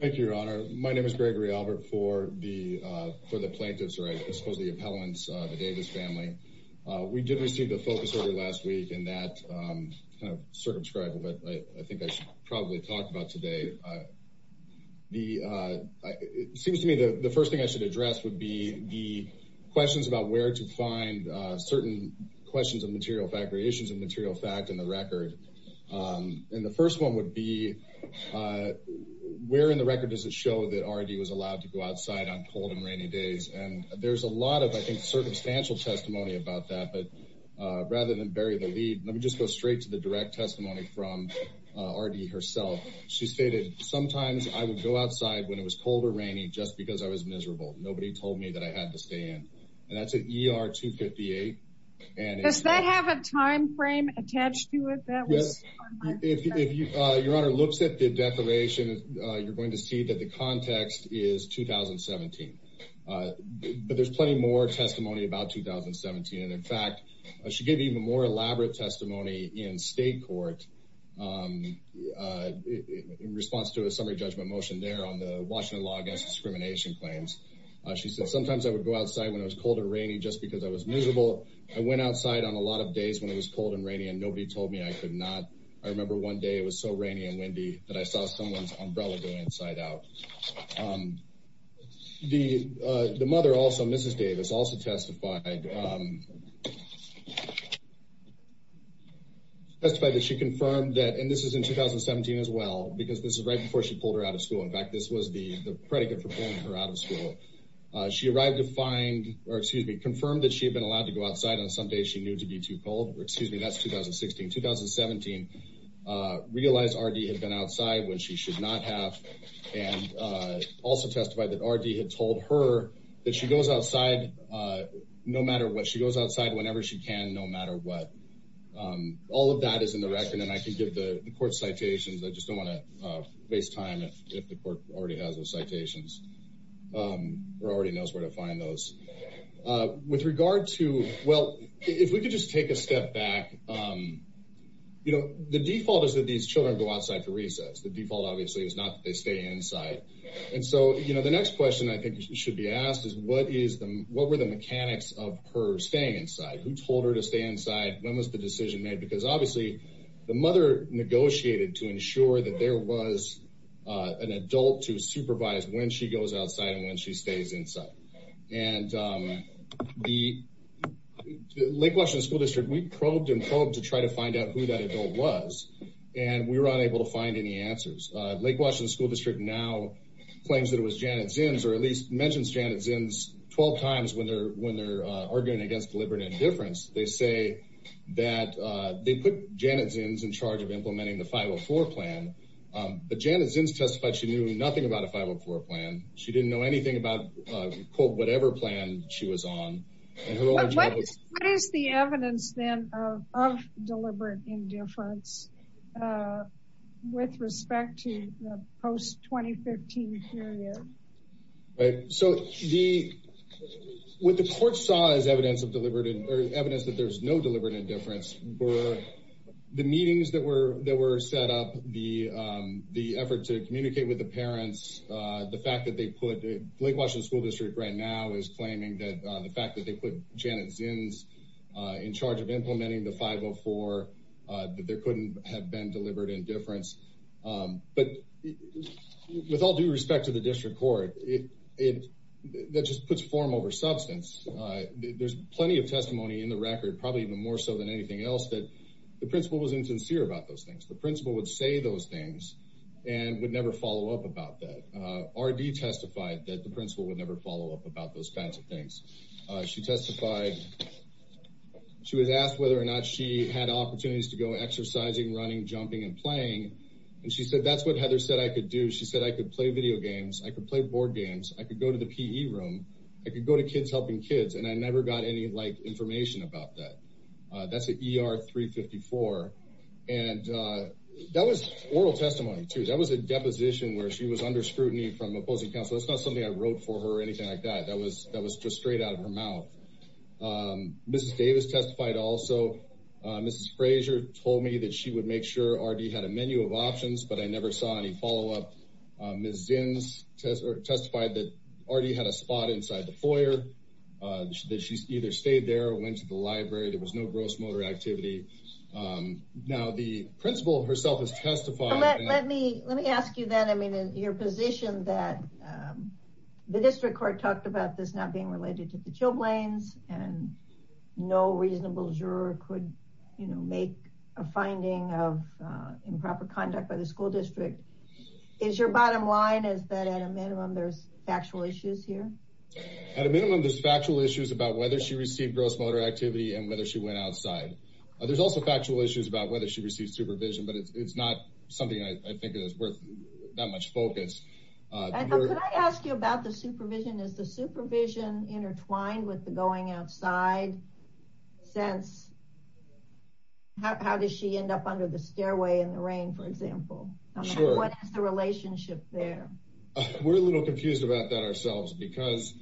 Thank you, Your Honor. My name is Gregory Albert for the plaintiffs, or I suppose the appellants, the Davis family. We did receive the focus order last week and that kind of circumscribed what I think I should probably talk about today. It seems to me the first thing I should address would be the questions about where to find certain questions of material fact, in the record. And the first one would be, where in the record does it show that R.D. was allowed to go outside on cold and rainy days? And there's a lot of, I think, circumstantial testimony about that, but rather than bury the lead, let me just go straight to the direct testimony from R.D. herself. She stated, sometimes I would go outside when it was cold or rainy just because I was miserable. Nobody told me that I had to stay in. And that's at ER 258. Does that have a time frame attached to it? Yes. If Your Honor looks at the declaration, you're going to see that the context is 2017. But there's plenty more testimony about 2017. And in fact, she gave even more elaborate testimony in state court, in response to a summary judgment motion there on the Washington law against discrimination claims. She said, sometimes I would go outside when it was cold or rainy just because I was miserable. I went outside on a lot of days when it was cold and rainy and nobody told me I could not. I remember one day it was so rainy and windy that I saw someone's umbrella going inside out. The mother also, Mrs. Davis, also testified that she confirmed that, and this is in 2017 as well, because this is right before she pulled her out of school. In fact, this was the predicate for pulling her out of school. She arrived to find, or excuse me, confirmed that she had been allowed to go outside on some days she knew to be too cold. Excuse me, that's 2016. 2017, realized R.D. had been outside when she should not have, and also testified that R.D. had told her that she goes outside no matter what. She goes outside whenever she can, no matter what. All of that is in the record. And then I can give the court citations. I just don't want to waste time if the court already has those citations or already knows where to find those. With regard to, well, if we could just take a step back, you know, the default is that these children go outside to recess. The default, obviously, is not that they stay inside. And so, you know, the next question I think should be asked is what were the mechanics of her staying inside? Who told her to stay inside? When was the decision made? Because obviously the mother negotiated to ensure that there was an adult to supervise when she goes outside and when she stays inside. And the Lake Washington School District, we probed and probed to try to find out who that adult was, and we were unable to find any answers. Lake Washington School District now claims that it was Janet Zins, or at least mentions Janet Zins 12 times when they're arguing against deliberate indifference. They say that they put Janet Zins in charge of implementing the 504 plan, but Janet Zins testified she knew nothing about a 504 plan. She didn't know anything about, quote, whatever plan she was on. What is the evidence then of deliberate indifference with respect to the post-2015 period? So what the court saw as evidence of deliberate or evidence that there's no deliberate indifference were the meetings that were set up, the effort to communicate with the parents. The fact that they put Lake Washington School District right now is claiming that the fact that they put Janet Zins in charge of implementing the 504, that there couldn't have been deliberate indifference. But with all due respect to the district court, that just puts form over substance. There's plenty of testimony in the record, probably even more so than anything else, that the principal was insincere about those things. The principal would say those things and would never follow up about that. RD testified that the principal would never follow up about those kinds of things. She testified she was asked whether or not she had opportunities to go exercising, running, jumping and playing. And she said that's what Heather said I could do. She said I could play video games. I could play board games. I could go to the PE room. I could go to kids helping kids. And I never got any information about that. That's an ER 354. And that was oral testimony, too. That was a deposition where she was under scrutiny from opposing counsel. That's not something I wrote for her or anything like that. That was just straight out of her mouth. Mrs. Davis testified also. Mrs. Frazier told me that she would make sure RD had a menu of options, but I never saw any follow-up. Ms. Zins testified that RD had a spot inside the foyer, that she either stayed there or went to the library. There was no gross motor activity. Now, the principal herself has testified. Let me ask you then, I mean, your position that the district court talked about this not being related to the Chilblains and no reasonable juror could, you know, make a finding of improper conduct by the school district. Is your bottom line is that at a minimum there's factual issues here? At a minimum, there's factual issues about whether she received gross motor activity and whether she went outside. There's also factual issues about whether she received supervision, but it's not something I think is worth that much focus. Could I ask you about the supervision? Is the supervision intertwined with the going outside? Since how does she end up under the stairway in the rain, for example? Sure. What is the relationship there? We're a little confused about that ourselves because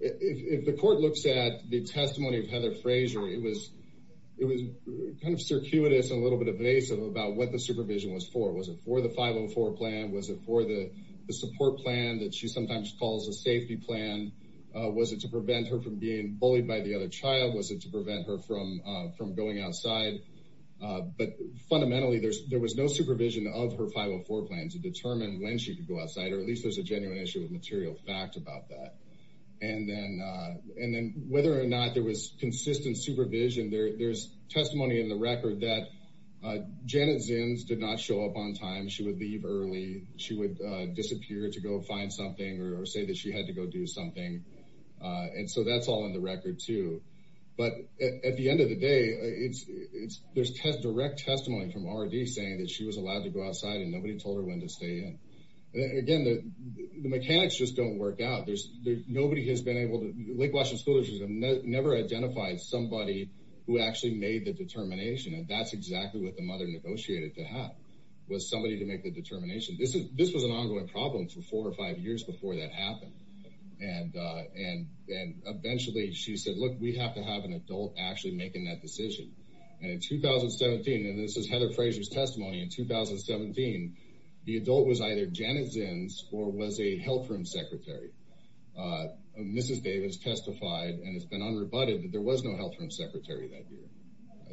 if the court looks at the testimony of Heather Frazier, it was kind of circuitous and a little bit evasive about what the supervision was for. Was it for the 504 plan? Was it for the support plan that she sometimes calls a safety plan? Was it to prevent her from being bullied by the other child? Was it to prevent her from going outside? But fundamentally, there was no supervision of her 504 plan to determine when she could go outside, or at least there's a genuine issue of material fact about that. And then whether or not there was consistent supervision, there's testimony in the record that Janet Zins did not show up on time. She would leave early. She would disappear to go find something or say that she had to go do something. And so that's all in the record, too. But at the end of the day, there's direct testimony from R.D. saying that she was allowed to go outside, and nobody told her when to stay in. Again, the mechanics just don't work out. Nobody has been able to – Lake Washington School District has never identified somebody who actually made the determination, and that's exactly what the mother negotiated to have, was somebody to make the determination. This was an ongoing problem for four or five years before that happened. And eventually she said, look, we have to have an adult actually making that decision. And in 2017 – and this is Heather Frazier's testimony – in 2017, the adult was either Janet Zins or was a health room secretary. Mrs. Davis testified, and it's been unrebutted, that there was no health room secretary that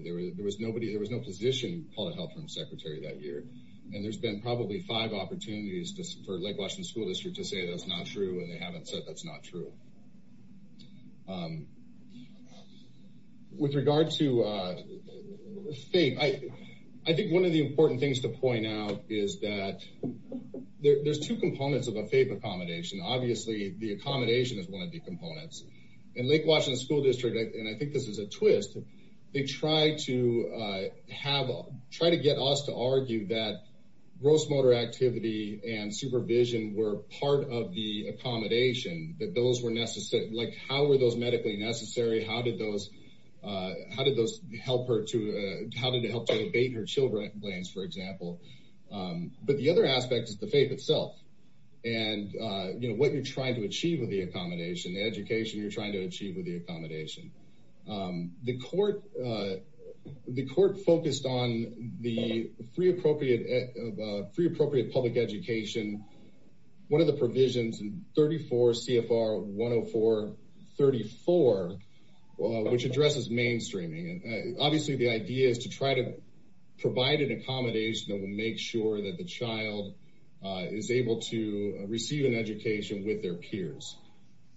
year. There was nobody – there was no physician called a health room secretary that year. And there's been probably five opportunities for Lake Washington School District to say that's not true, and they haven't said that's not true. With regard to FAPE, I think one of the important things to point out is that there's two components of a FAPE accommodation. Obviously, the accommodation is one of the components. In Lake Washington School District – and I think this is a twist – they try to get us to argue that gross motor activity and supervision were part of the accommodation, that those were necessary. Like, how were those medically necessary? How did those help her to – how did it help to abate her children's blades, for example? But the other aspect is the FAPE itself and what you're trying to achieve with the accommodation, the education you're trying to achieve with the accommodation. The court focused on the free appropriate public education, one of the provisions in 34 CFR 104.34, which addresses mainstreaming. Obviously, the idea is to try to provide an accommodation that will make sure that the child is able to receive an education with their peers.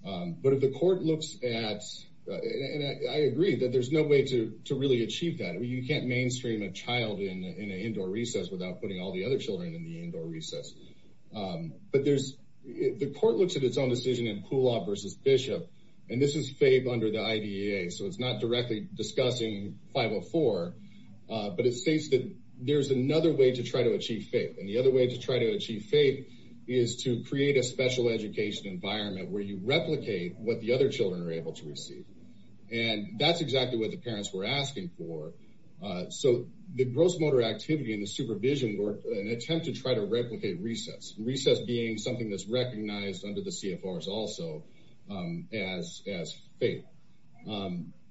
But if the court looks at – and I agree that there's no way to really achieve that. You can't mainstream a child in an indoor recess without putting all the other children in the indoor recess. But there's – the court looks at its own decision in Poolaw v. Bishop, and this is FAPE under the IDEA. So it's not directly discussing 504, but it states that there's another way to try to achieve FAPE. And the other way to try to achieve FAPE is to create a special education environment where you replicate what the other children are able to receive. And that's exactly what the parents were asking for. So the gross motor activity and the supervision were an attempt to try to replicate recess, recess being something that's recognized under the CFRs also as FAPE.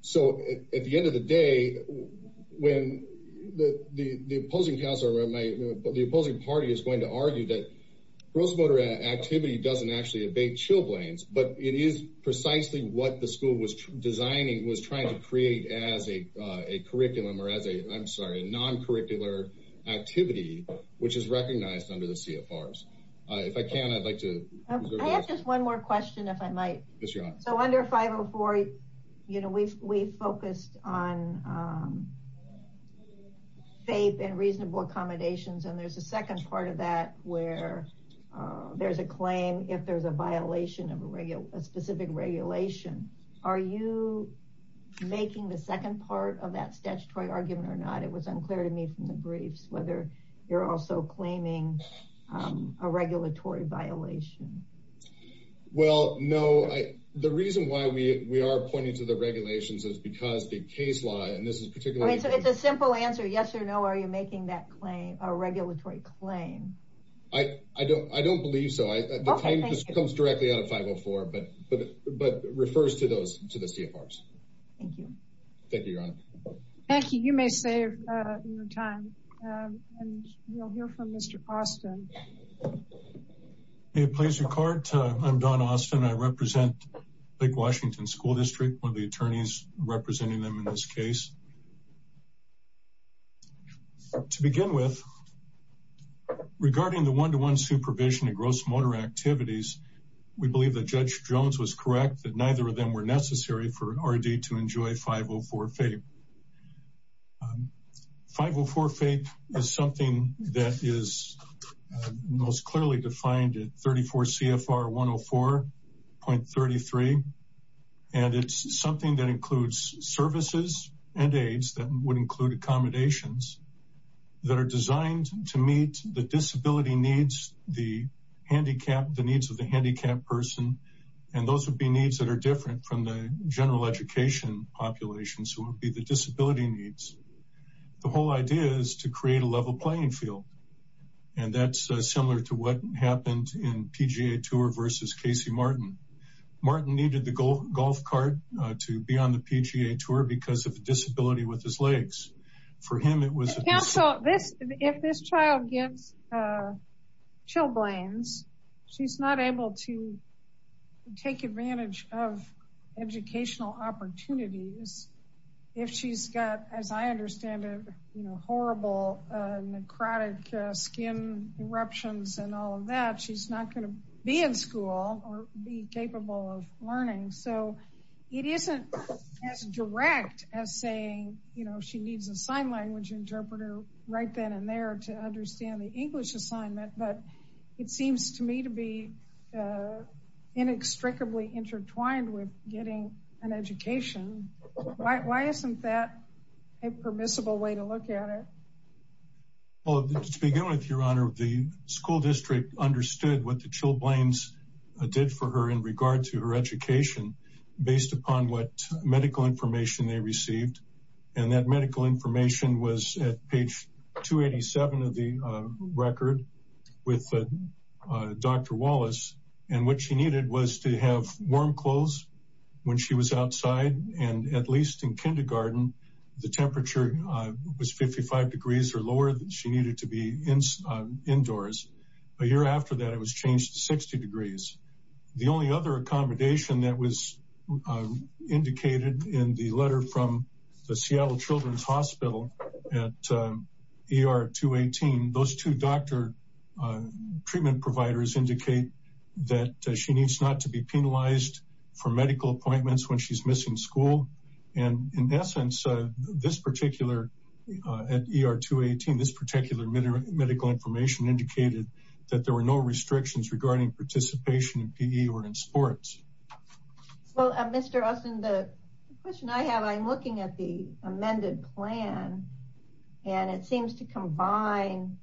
So at the end of the day, when the opposing counsel or the opposing party is going to argue that gross motor activity doesn't actually evade chilblains, but it is precisely what the school was designing, was trying to create as a non-curricular activity, which is recognized under the CFRs. If I can, I'd like to – I have just one more question if I might. Yes, Your Honor. So under 504, you know, we focused on FAPE and reasonable accommodations. And there's a second part of that where there's a claim if there's a violation of a specific regulation. Are you making the second part of that statutory argument or not? It was unclear to me from the briefs whether you're also claiming a regulatory violation. Well, no. The reason why we are pointing to the regulations is because the case law, and this is particularly – So it's a simple answer, yes or no, are you making that claim, a regulatory claim? I don't believe so. Okay, thank you. The claim comes directly out of 504, but refers to the CFRs. Thank you. Thank you, Your Honor. Thank you. You may save your time. And we'll hear from Mr. Austin. May it please your Court, I'm Don Austin. I represent Lake Washington School District, one of the attorneys representing them in this case. To begin with, regarding the one-to-one supervision of gross motor activities, we believe that Judge Jones was correct that neither of them were necessary for RD to enjoy 504 FAPE. 504 FAPE is something that is most clearly defined at 34 CFR 104.33, and it's something that includes services and aids that would include accommodations that are designed to meet the disability needs, the needs of the handicapped person, and those would be needs that are different from the general education population, so it would be the disability needs. The whole idea is to create a level playing field, and that's similar to what happened in PGA Tour versus Casey Martin. Martin needed the golf cart to be on the PGA Tour because of a disability with his legs. For him, it was a disability. If this child gets chilblains, she's not able to take advantage of educational opportunities. If she's got, as I understand it, horrible necrotic skin eruptions and all of that, she's not going to be in school or be capable of learning, so it isn't as direct as saying she needs a sign language interpreter right then and there to understand the English assignment, but it seems to me to be inextricably intertwined with getting an education. Why isn't that a permissible way to look at it? Well, to begin with, Your Honor, the school district understood what the chilblains did for her in regard to her education based upon what medical information they received, and that medical information was at page 287 of the record with Dr. Wallace, and what she needed was to have warm clothes when she was outside, and at least in kindergarten, the temperature was 55 degrees or lower than she needed to be indoors. A year after that, it was changed to 60 degrees. The only other accommodation that was indicated in the letter from the Seattle Children's Hospital at ER 218, those two doctor treatment providers indicate that she needs not to be penalized for medical appointments when she's missing school, and in essence, at ER 218, this particular medical information indicated that there were no restrictions regarding participation in PE or in sports. Well, Mr. Austin, the question I have, I'm looking at the amended plan, and it seems to combine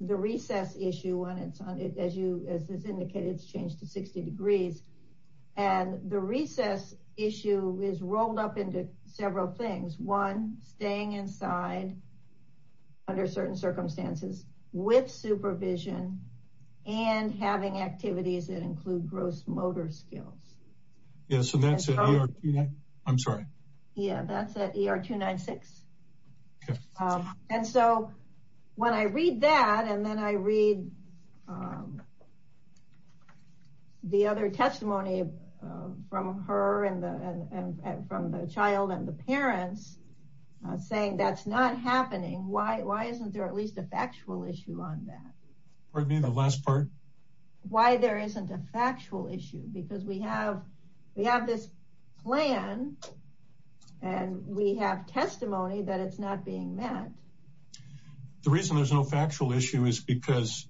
the recess issue, as indicated, it's changed to 60 degrees, and the recess issue is rolled up into several things. One, staying inside under certain circumstances with supervision and having activities that include gross motor skills. Yeah, so that's at ER 296. And so when I read that, and then I read the other testimony from her and from the child and the parents saying that's not happening, why isn't there at least a factual issue on that? Pardon me, the last part? Why there isn't a factual issue, because we have this plan, and we have testimony that it's not being met. The reason there's no factual issue is because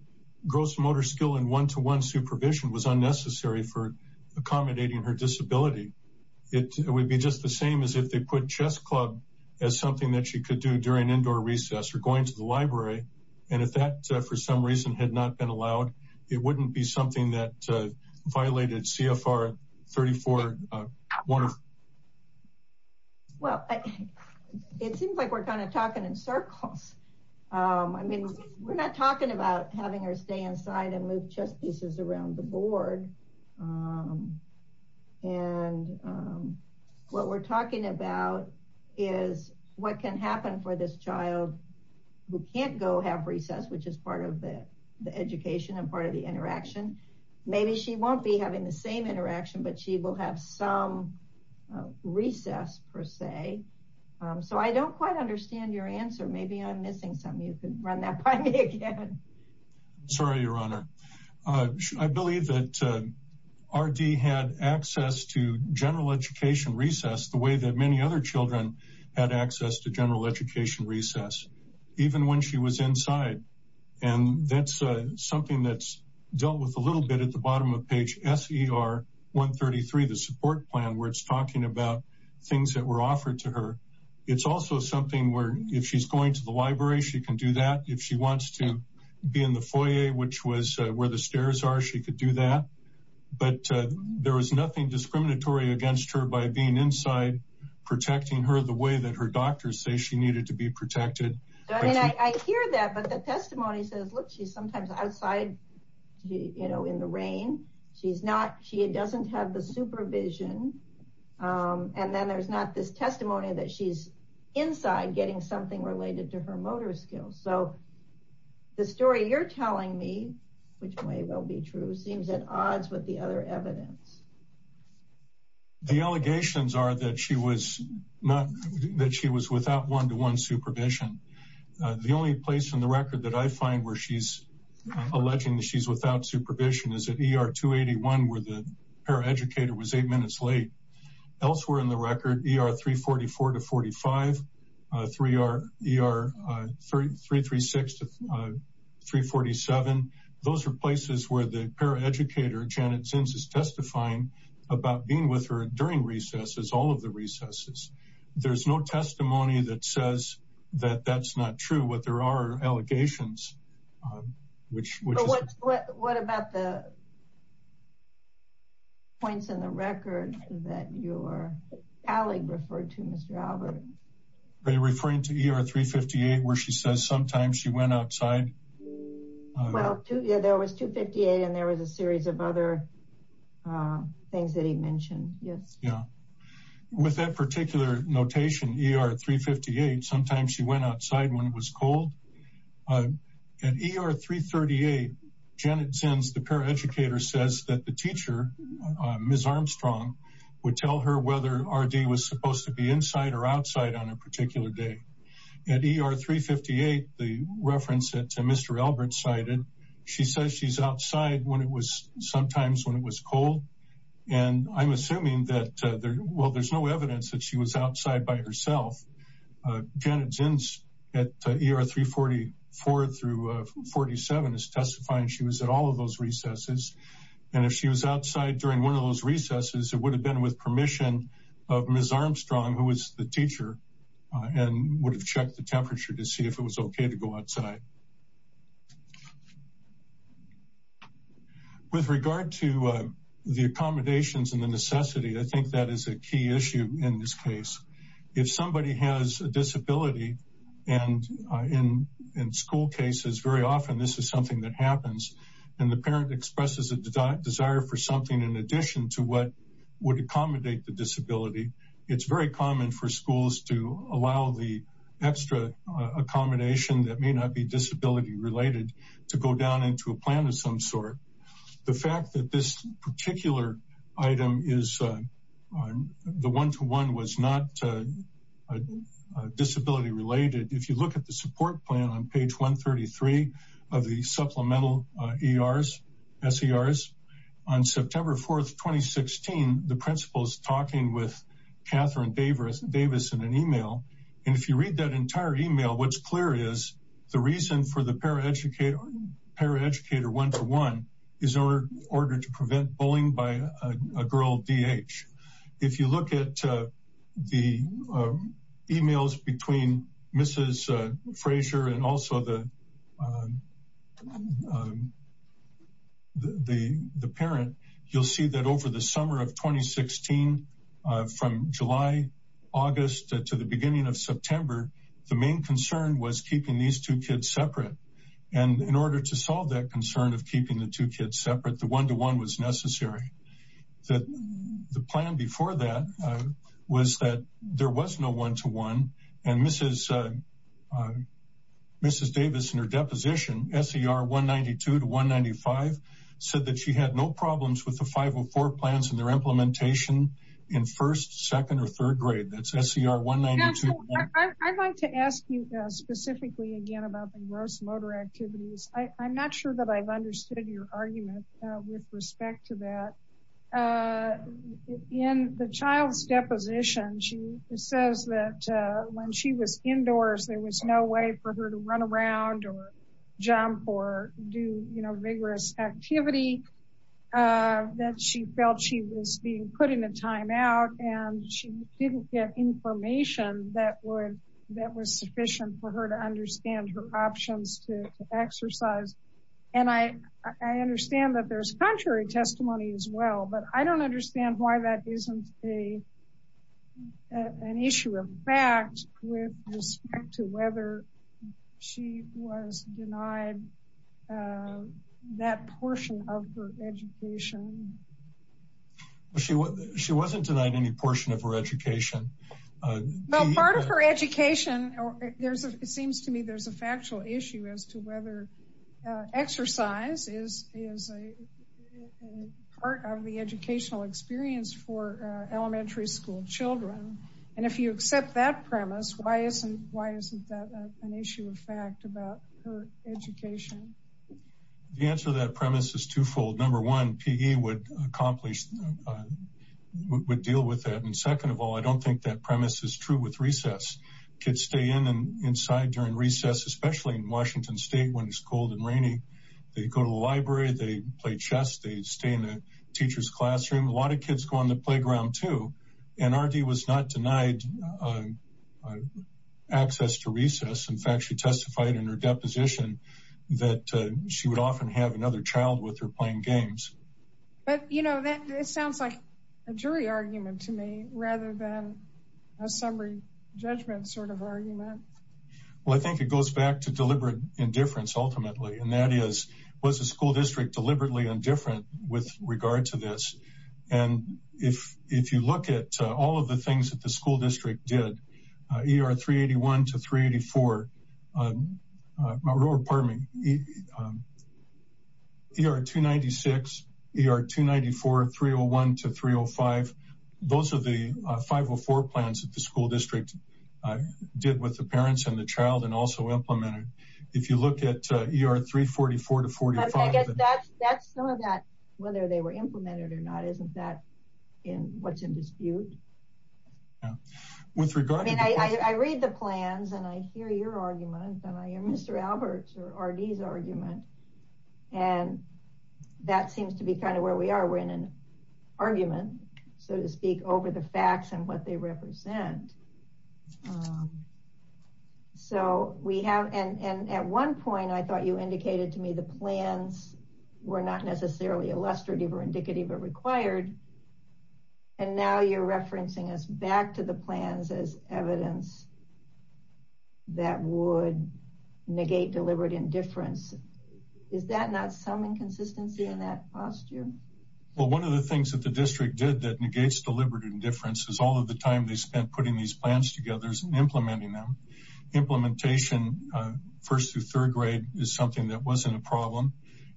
gross motor skill and one-to-one supervision was unnecessary for accommodating her disability. It would be just the same as if they put chess club as something that she could do during indoor recess or going to the library, and if that, for some reason, had not been allowed, it wouldn't be something that violated CFR 34-1. Well, it seems like we're kind of talking in circles. I mean, we're not talking about having her stay inside and move chess pieces around the board. And what we're talking about is what can happen for this child who can't go have recess, which is part of the education and part of the interaction. Maybe she won't be having the same interaction, but she will have some recess, per se. So I don't quite understand your answer. Maybe I'm missing something. You can run that by me again. Sorry, Your Honor. I believe that RD had access to general education recess the way that many other children had access to general education recess, even when she was inside. And that's something that's dealt with a little bit at the bottom of page SER 133, the support plan, where it's talking about things that were offered to her. It's also something where if she's going to the library, she can do that. If she wants to be in the foyer, which was where the stairs are, she could do that. But there was nothing discriminatory against her by being inside, protecting her the way that her doctors say she needed to be protected. I hear that, but the testimony says, look, she's sometimes outside in the rain. She doesn't have the supervision. And then there's not this testimony that she's inside getting something related to her motor skills. So the story you're telling me, which may well be true, seems at odds with the other evidence. The allegations are that she was without one-to-one supervision. The only place in the record that I find where she's alleging that she's without supervision is at ER 281, where the paraeducator was eight minutes late. Elsewhere in the record, ER 344 to 45, ER 336 to 347. Those are places where the paraeducator, Janet Zins, is testifying about being with her during recesses, all of the recesses. There's no testimony that says that that's not true. What there are are allegations. What about the points in the record that your colleague referred to, Mr. Albert? Are you referring to ER 358, where she says sometimes she went outside? Well, there was 258, and there was a series of other things that he mentioned. With that particular notation, ER 358, sometimes she went outside when it was cold. At ER 338, Janet Zins, the paraeducator, says that the teacher, Ms. Armstrong, would tell her whether RD was supposed to be inside or outside on a particular day. At ER 358, the reference that Mr. Albert cited, she says she's outside sometimes when it was cold. I'm assuming that there's no evidence that she was outside by herself. Janet Zins at ER 344 through 47 is testifying she was at all of those recesses. If she was outside during one of those recesses, it would have been with permission of Ms. Armstrong, who was the teacher, and would have checked the temperature to see if it was okay to go outside. With regard to the accommodations and the necessity, I think that is a key issue in this case. If somebody has a disability, and in school cases, very often this is something that happens, and the parent expresses a desire for something in addition to what would accommodate the disability, it's very common for schools to allow the extra accommodation that may not be disability-related to go down into a plan of some sort. The fact that this particular item, the one-to-one, was not disability-related, if you look at the support plan on page 133 of the supplemental SERs, on September 4th, 2016, the principal is talking with Catherine Davis in an email, and if you read that entire email, what's clear is the reason for the paraeducator one-to-one is in order to prevent bullying by a girl, DH. If you look at the emails between Mrs. Frazier and also the parent, you'll see that over the summer of 2016, from July, August, to the beginning of September, the main concern was keeping these two kids separate, and in order to solve that concern of keeping the two kids separate, the one-to-one was necessary. The plan before that was that there was no one-to-one, and Mrs. Davis in her deposition, SER 192 to 195, said that she had no problems with the 504 plans and their implementation in first, second, or third grade. That's SER 192. I'd like to ask you specifically again about the gross motor activities. I'm not sure that I've understood your argument with respect to that. In the child's deposition, she says that when she was indoors, there was no way for her to run around or jump or do vigorous activity, that she felt she was being put in a timeout, and she didn't get information that was sufficient for her to understand her options to exercise. And I understand that there's contrary testimony as well, but I don't understand why that isn't an issue of fact with respect to whether she was denied that portion of her education. She wasn't denied any portion of her education. Well, part of her education, it seems to me there's a factual issue as to whether exercise is part of the educational experience for elementary school children. And if you accept that premise, why isn't that an issue of fact about her education? The answer to that premise is twofold. Number one, PE would deal with that. And second of all, I don't think that premise is true with recess. Kids stay in and inside during recess, especially in Washington State when it's cold and rainy. They go to the library, they play chess, they stay in the teacher's classroom. A lot of kids go on the playground too. And RD was not denied access to recess. In fact, she testified in her deposition that she would often have another child with her playing games. But, you know, it sounds like a jury argument to me rather than a summary judgment sort of argument. Well, I think it goes back to deliberate indifference ultimately. And that is, was the school district deliberately indifferent with regard to this? And if you look at all of the things that the school district did, ER 381 to 384, ER 296, ER 294, 301 to 305, those are the 504 plans that the school district did with the parents and the child and also implemented. If you look at ER 344 to 45. I guess that's some of that, whether they were implemented or not, isn't that what's in dispute? I read the plans and I hear your argument and I hear Mr. Albert's or RD's argument. And that seems to be kind of where we are. We're in an argument, so to speak, over the facts and what they represent. So we have, and at one point I thought you indicated to me the plans were not necessarily illustrative or indicative or required. And now you're referencing us back to the plans as evidence that would negate deliberate indifference. Is that not some inconsistency in that posture? Well, one of the things that the district did that negates deliberate indifference is all of the time they spent putting these plans together and implementing them. Implementation first through third grade is something that wasn't a problem.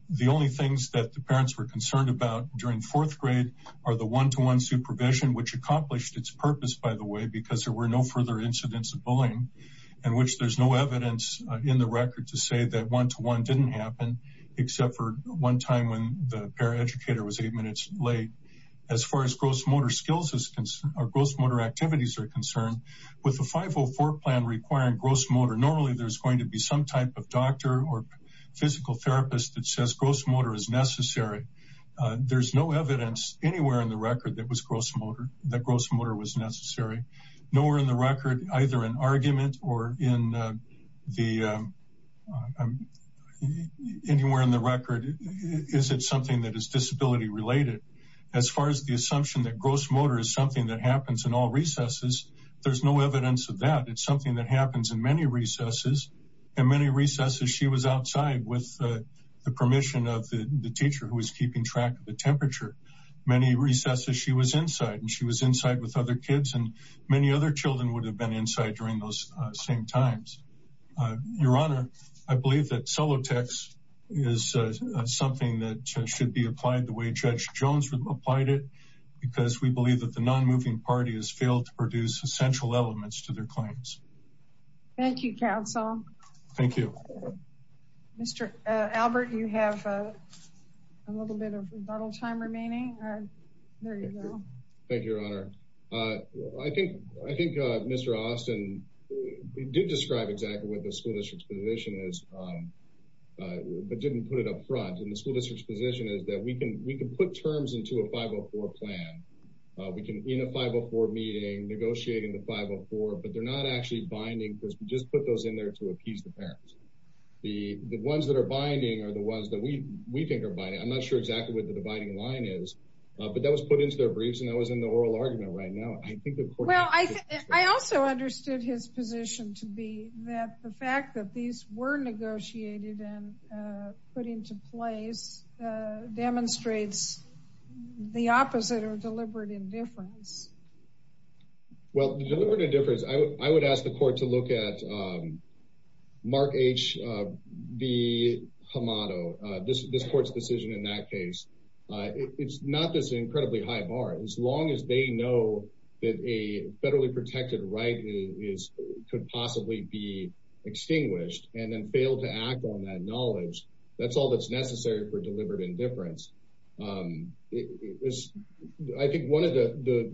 The only things that the parents were concerned about during fourth grade are the one to one supervision, which accomplished its purpose, by the way, because there were no further incidents of bullying and which there's no evidence in the record to say that one to one didn't happen, except for one time when the paraeducator was eight minutes late. As far as gross motor activities are concerned, with the 504 plan requiring gross motor, normally there's going to be some type of doctor or physical therapist that says gross motor is necessary. There's no evidence anywhere in the record that gross motor was necessary. Nowhere in the record, either an argument or in the anywhere in the record. Is it something that is disability related as far as the assumption that gross motor is something that happens in all recesses? There's no evidence of that. It's something that happens in many recesses and many recesses. She was outside with the permission of the teacher who was keeping track of the temperature. Many recesses she was inside and she was inside with other kids and many other children would have been inside during those same times. Your Honor, I believe that solo text is something that should be applied the way Judge Jones applied it, because we believe that the non-moving party has failed to produce essential elements to their claims. Thank you, counsel. Thank you. Mr. Albert, you have a little bit of rebuttal time remaining. There you go. Thank you, Your Honor. I think I think Mr. Austin did describe exactly what the school district's position is, but didn't put it up front in the school district's position is that we can we can put terms into a 504 plan. We can in a 504 meeting, negotiating the 504, but they're not actually binding. We just put those in there to appease the parents. The ones that are binding are the ones that we we think are binding. I'm not sure exactly what the dividing line is, but that was put into their briefs and that was in the oral argument right now. I also understood his position to be that the fact that these were negotiated and put into place demonstrates the opposite or deliberate indifference. Well, the deliberate indifference, I would ask the court to look at Mark H. V. Hamato, this court's decision in that case. It's not this incredibly high bar. As long as they know that a federally protected right is could possibly be extinguished and then fail to act on that knowledge. That's all that's necessary for deliberate indifference. I think one of the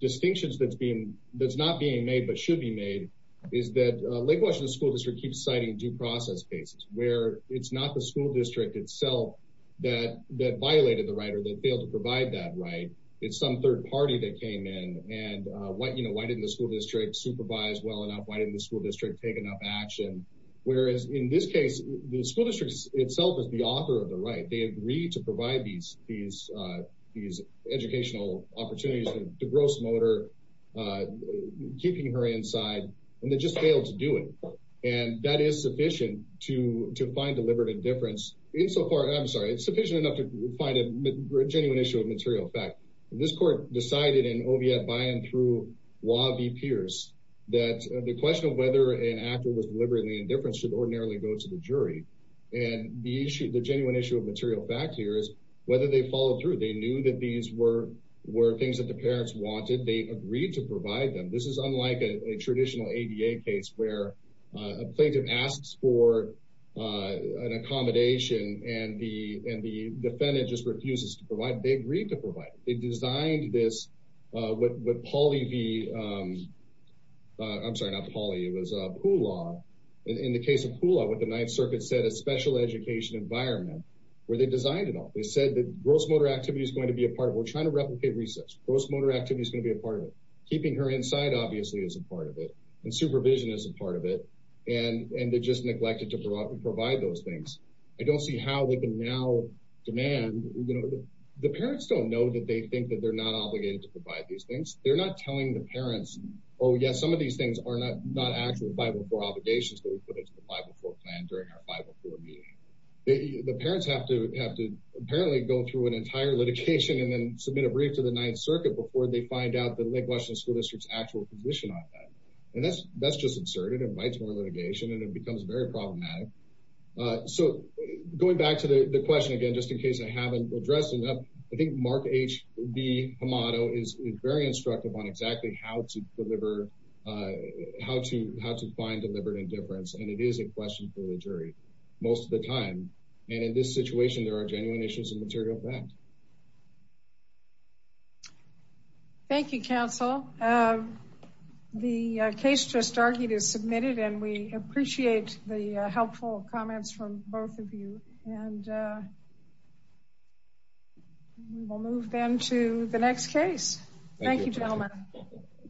distinctions that's being that's not being made but should be made is that Lake Washington School District keeps citing due process cases where it's not the school district itself that violated the right or that failed to provide that right. It's some third party that came in. Why didn't the school district supervise well enough? Why didn't the school district take enough action? Whereas in this case, the school district itself is the author of the right. They agreed to provide these educational opportunities to gross motor, keeping her inside, and they just failed to do it. And that is sufficient to find deliberate indifference in so far. I'm sorry. It's sufficient enough to find a genuine issue of material fact. This court decided in OVF by and through Wabi Pierce that the question of whether an actor was deliberately indifference should ordinarily go to the jury. And the issue, the genuine issue of material fact here is whether they follow through. They knew that these were were things that the parents wanted. They agreed to provide them. This is unlike a traditional ADA case where a plaintiff asks for an accommodation and the defendant just refuses to provide. They agreed to provide. They designed this with Pauly. I'm sorry, not Pauly. It was Poolaw. In the case of Poolaw, what the Ninth Circuit said, a special education environment where they designed it all. They said that gross motor activity is going to be a part of it. We're trying to replicate research. Gross motor activity is going to be a part of it. Keeping her inside, obviously, is a part of it. And supervision is a part of it. And they just neglected to provide those things. I don't see how they can now demand. The parents don't know that they think that they're not obligated to provide these things. They're not telling the parents, oh, yeah, some of these things are not actually 504 obligations that we put into the 504 plan during our 504 meeting. The parents have to apparently go through an entire litigation and then submit a brief to the Ninth Circuit before they find out the Lake Washington School District's actual position on that. And that's just absurd. It invites more litigation and it becomes very problematic. So going back to the question again, just in case I haven't addressed enough, I think Mark H. The motto is very instructive on exactly how to find deliberate indifference. And it is a question for the jury. Most of the time. And in this situation, there are genuine issues of material fact. Thank you, counsel. The case just argued is submitted. And we appreciate the helpful comments from both of you. And we'll move then to the next case. Thank you, gentlemen.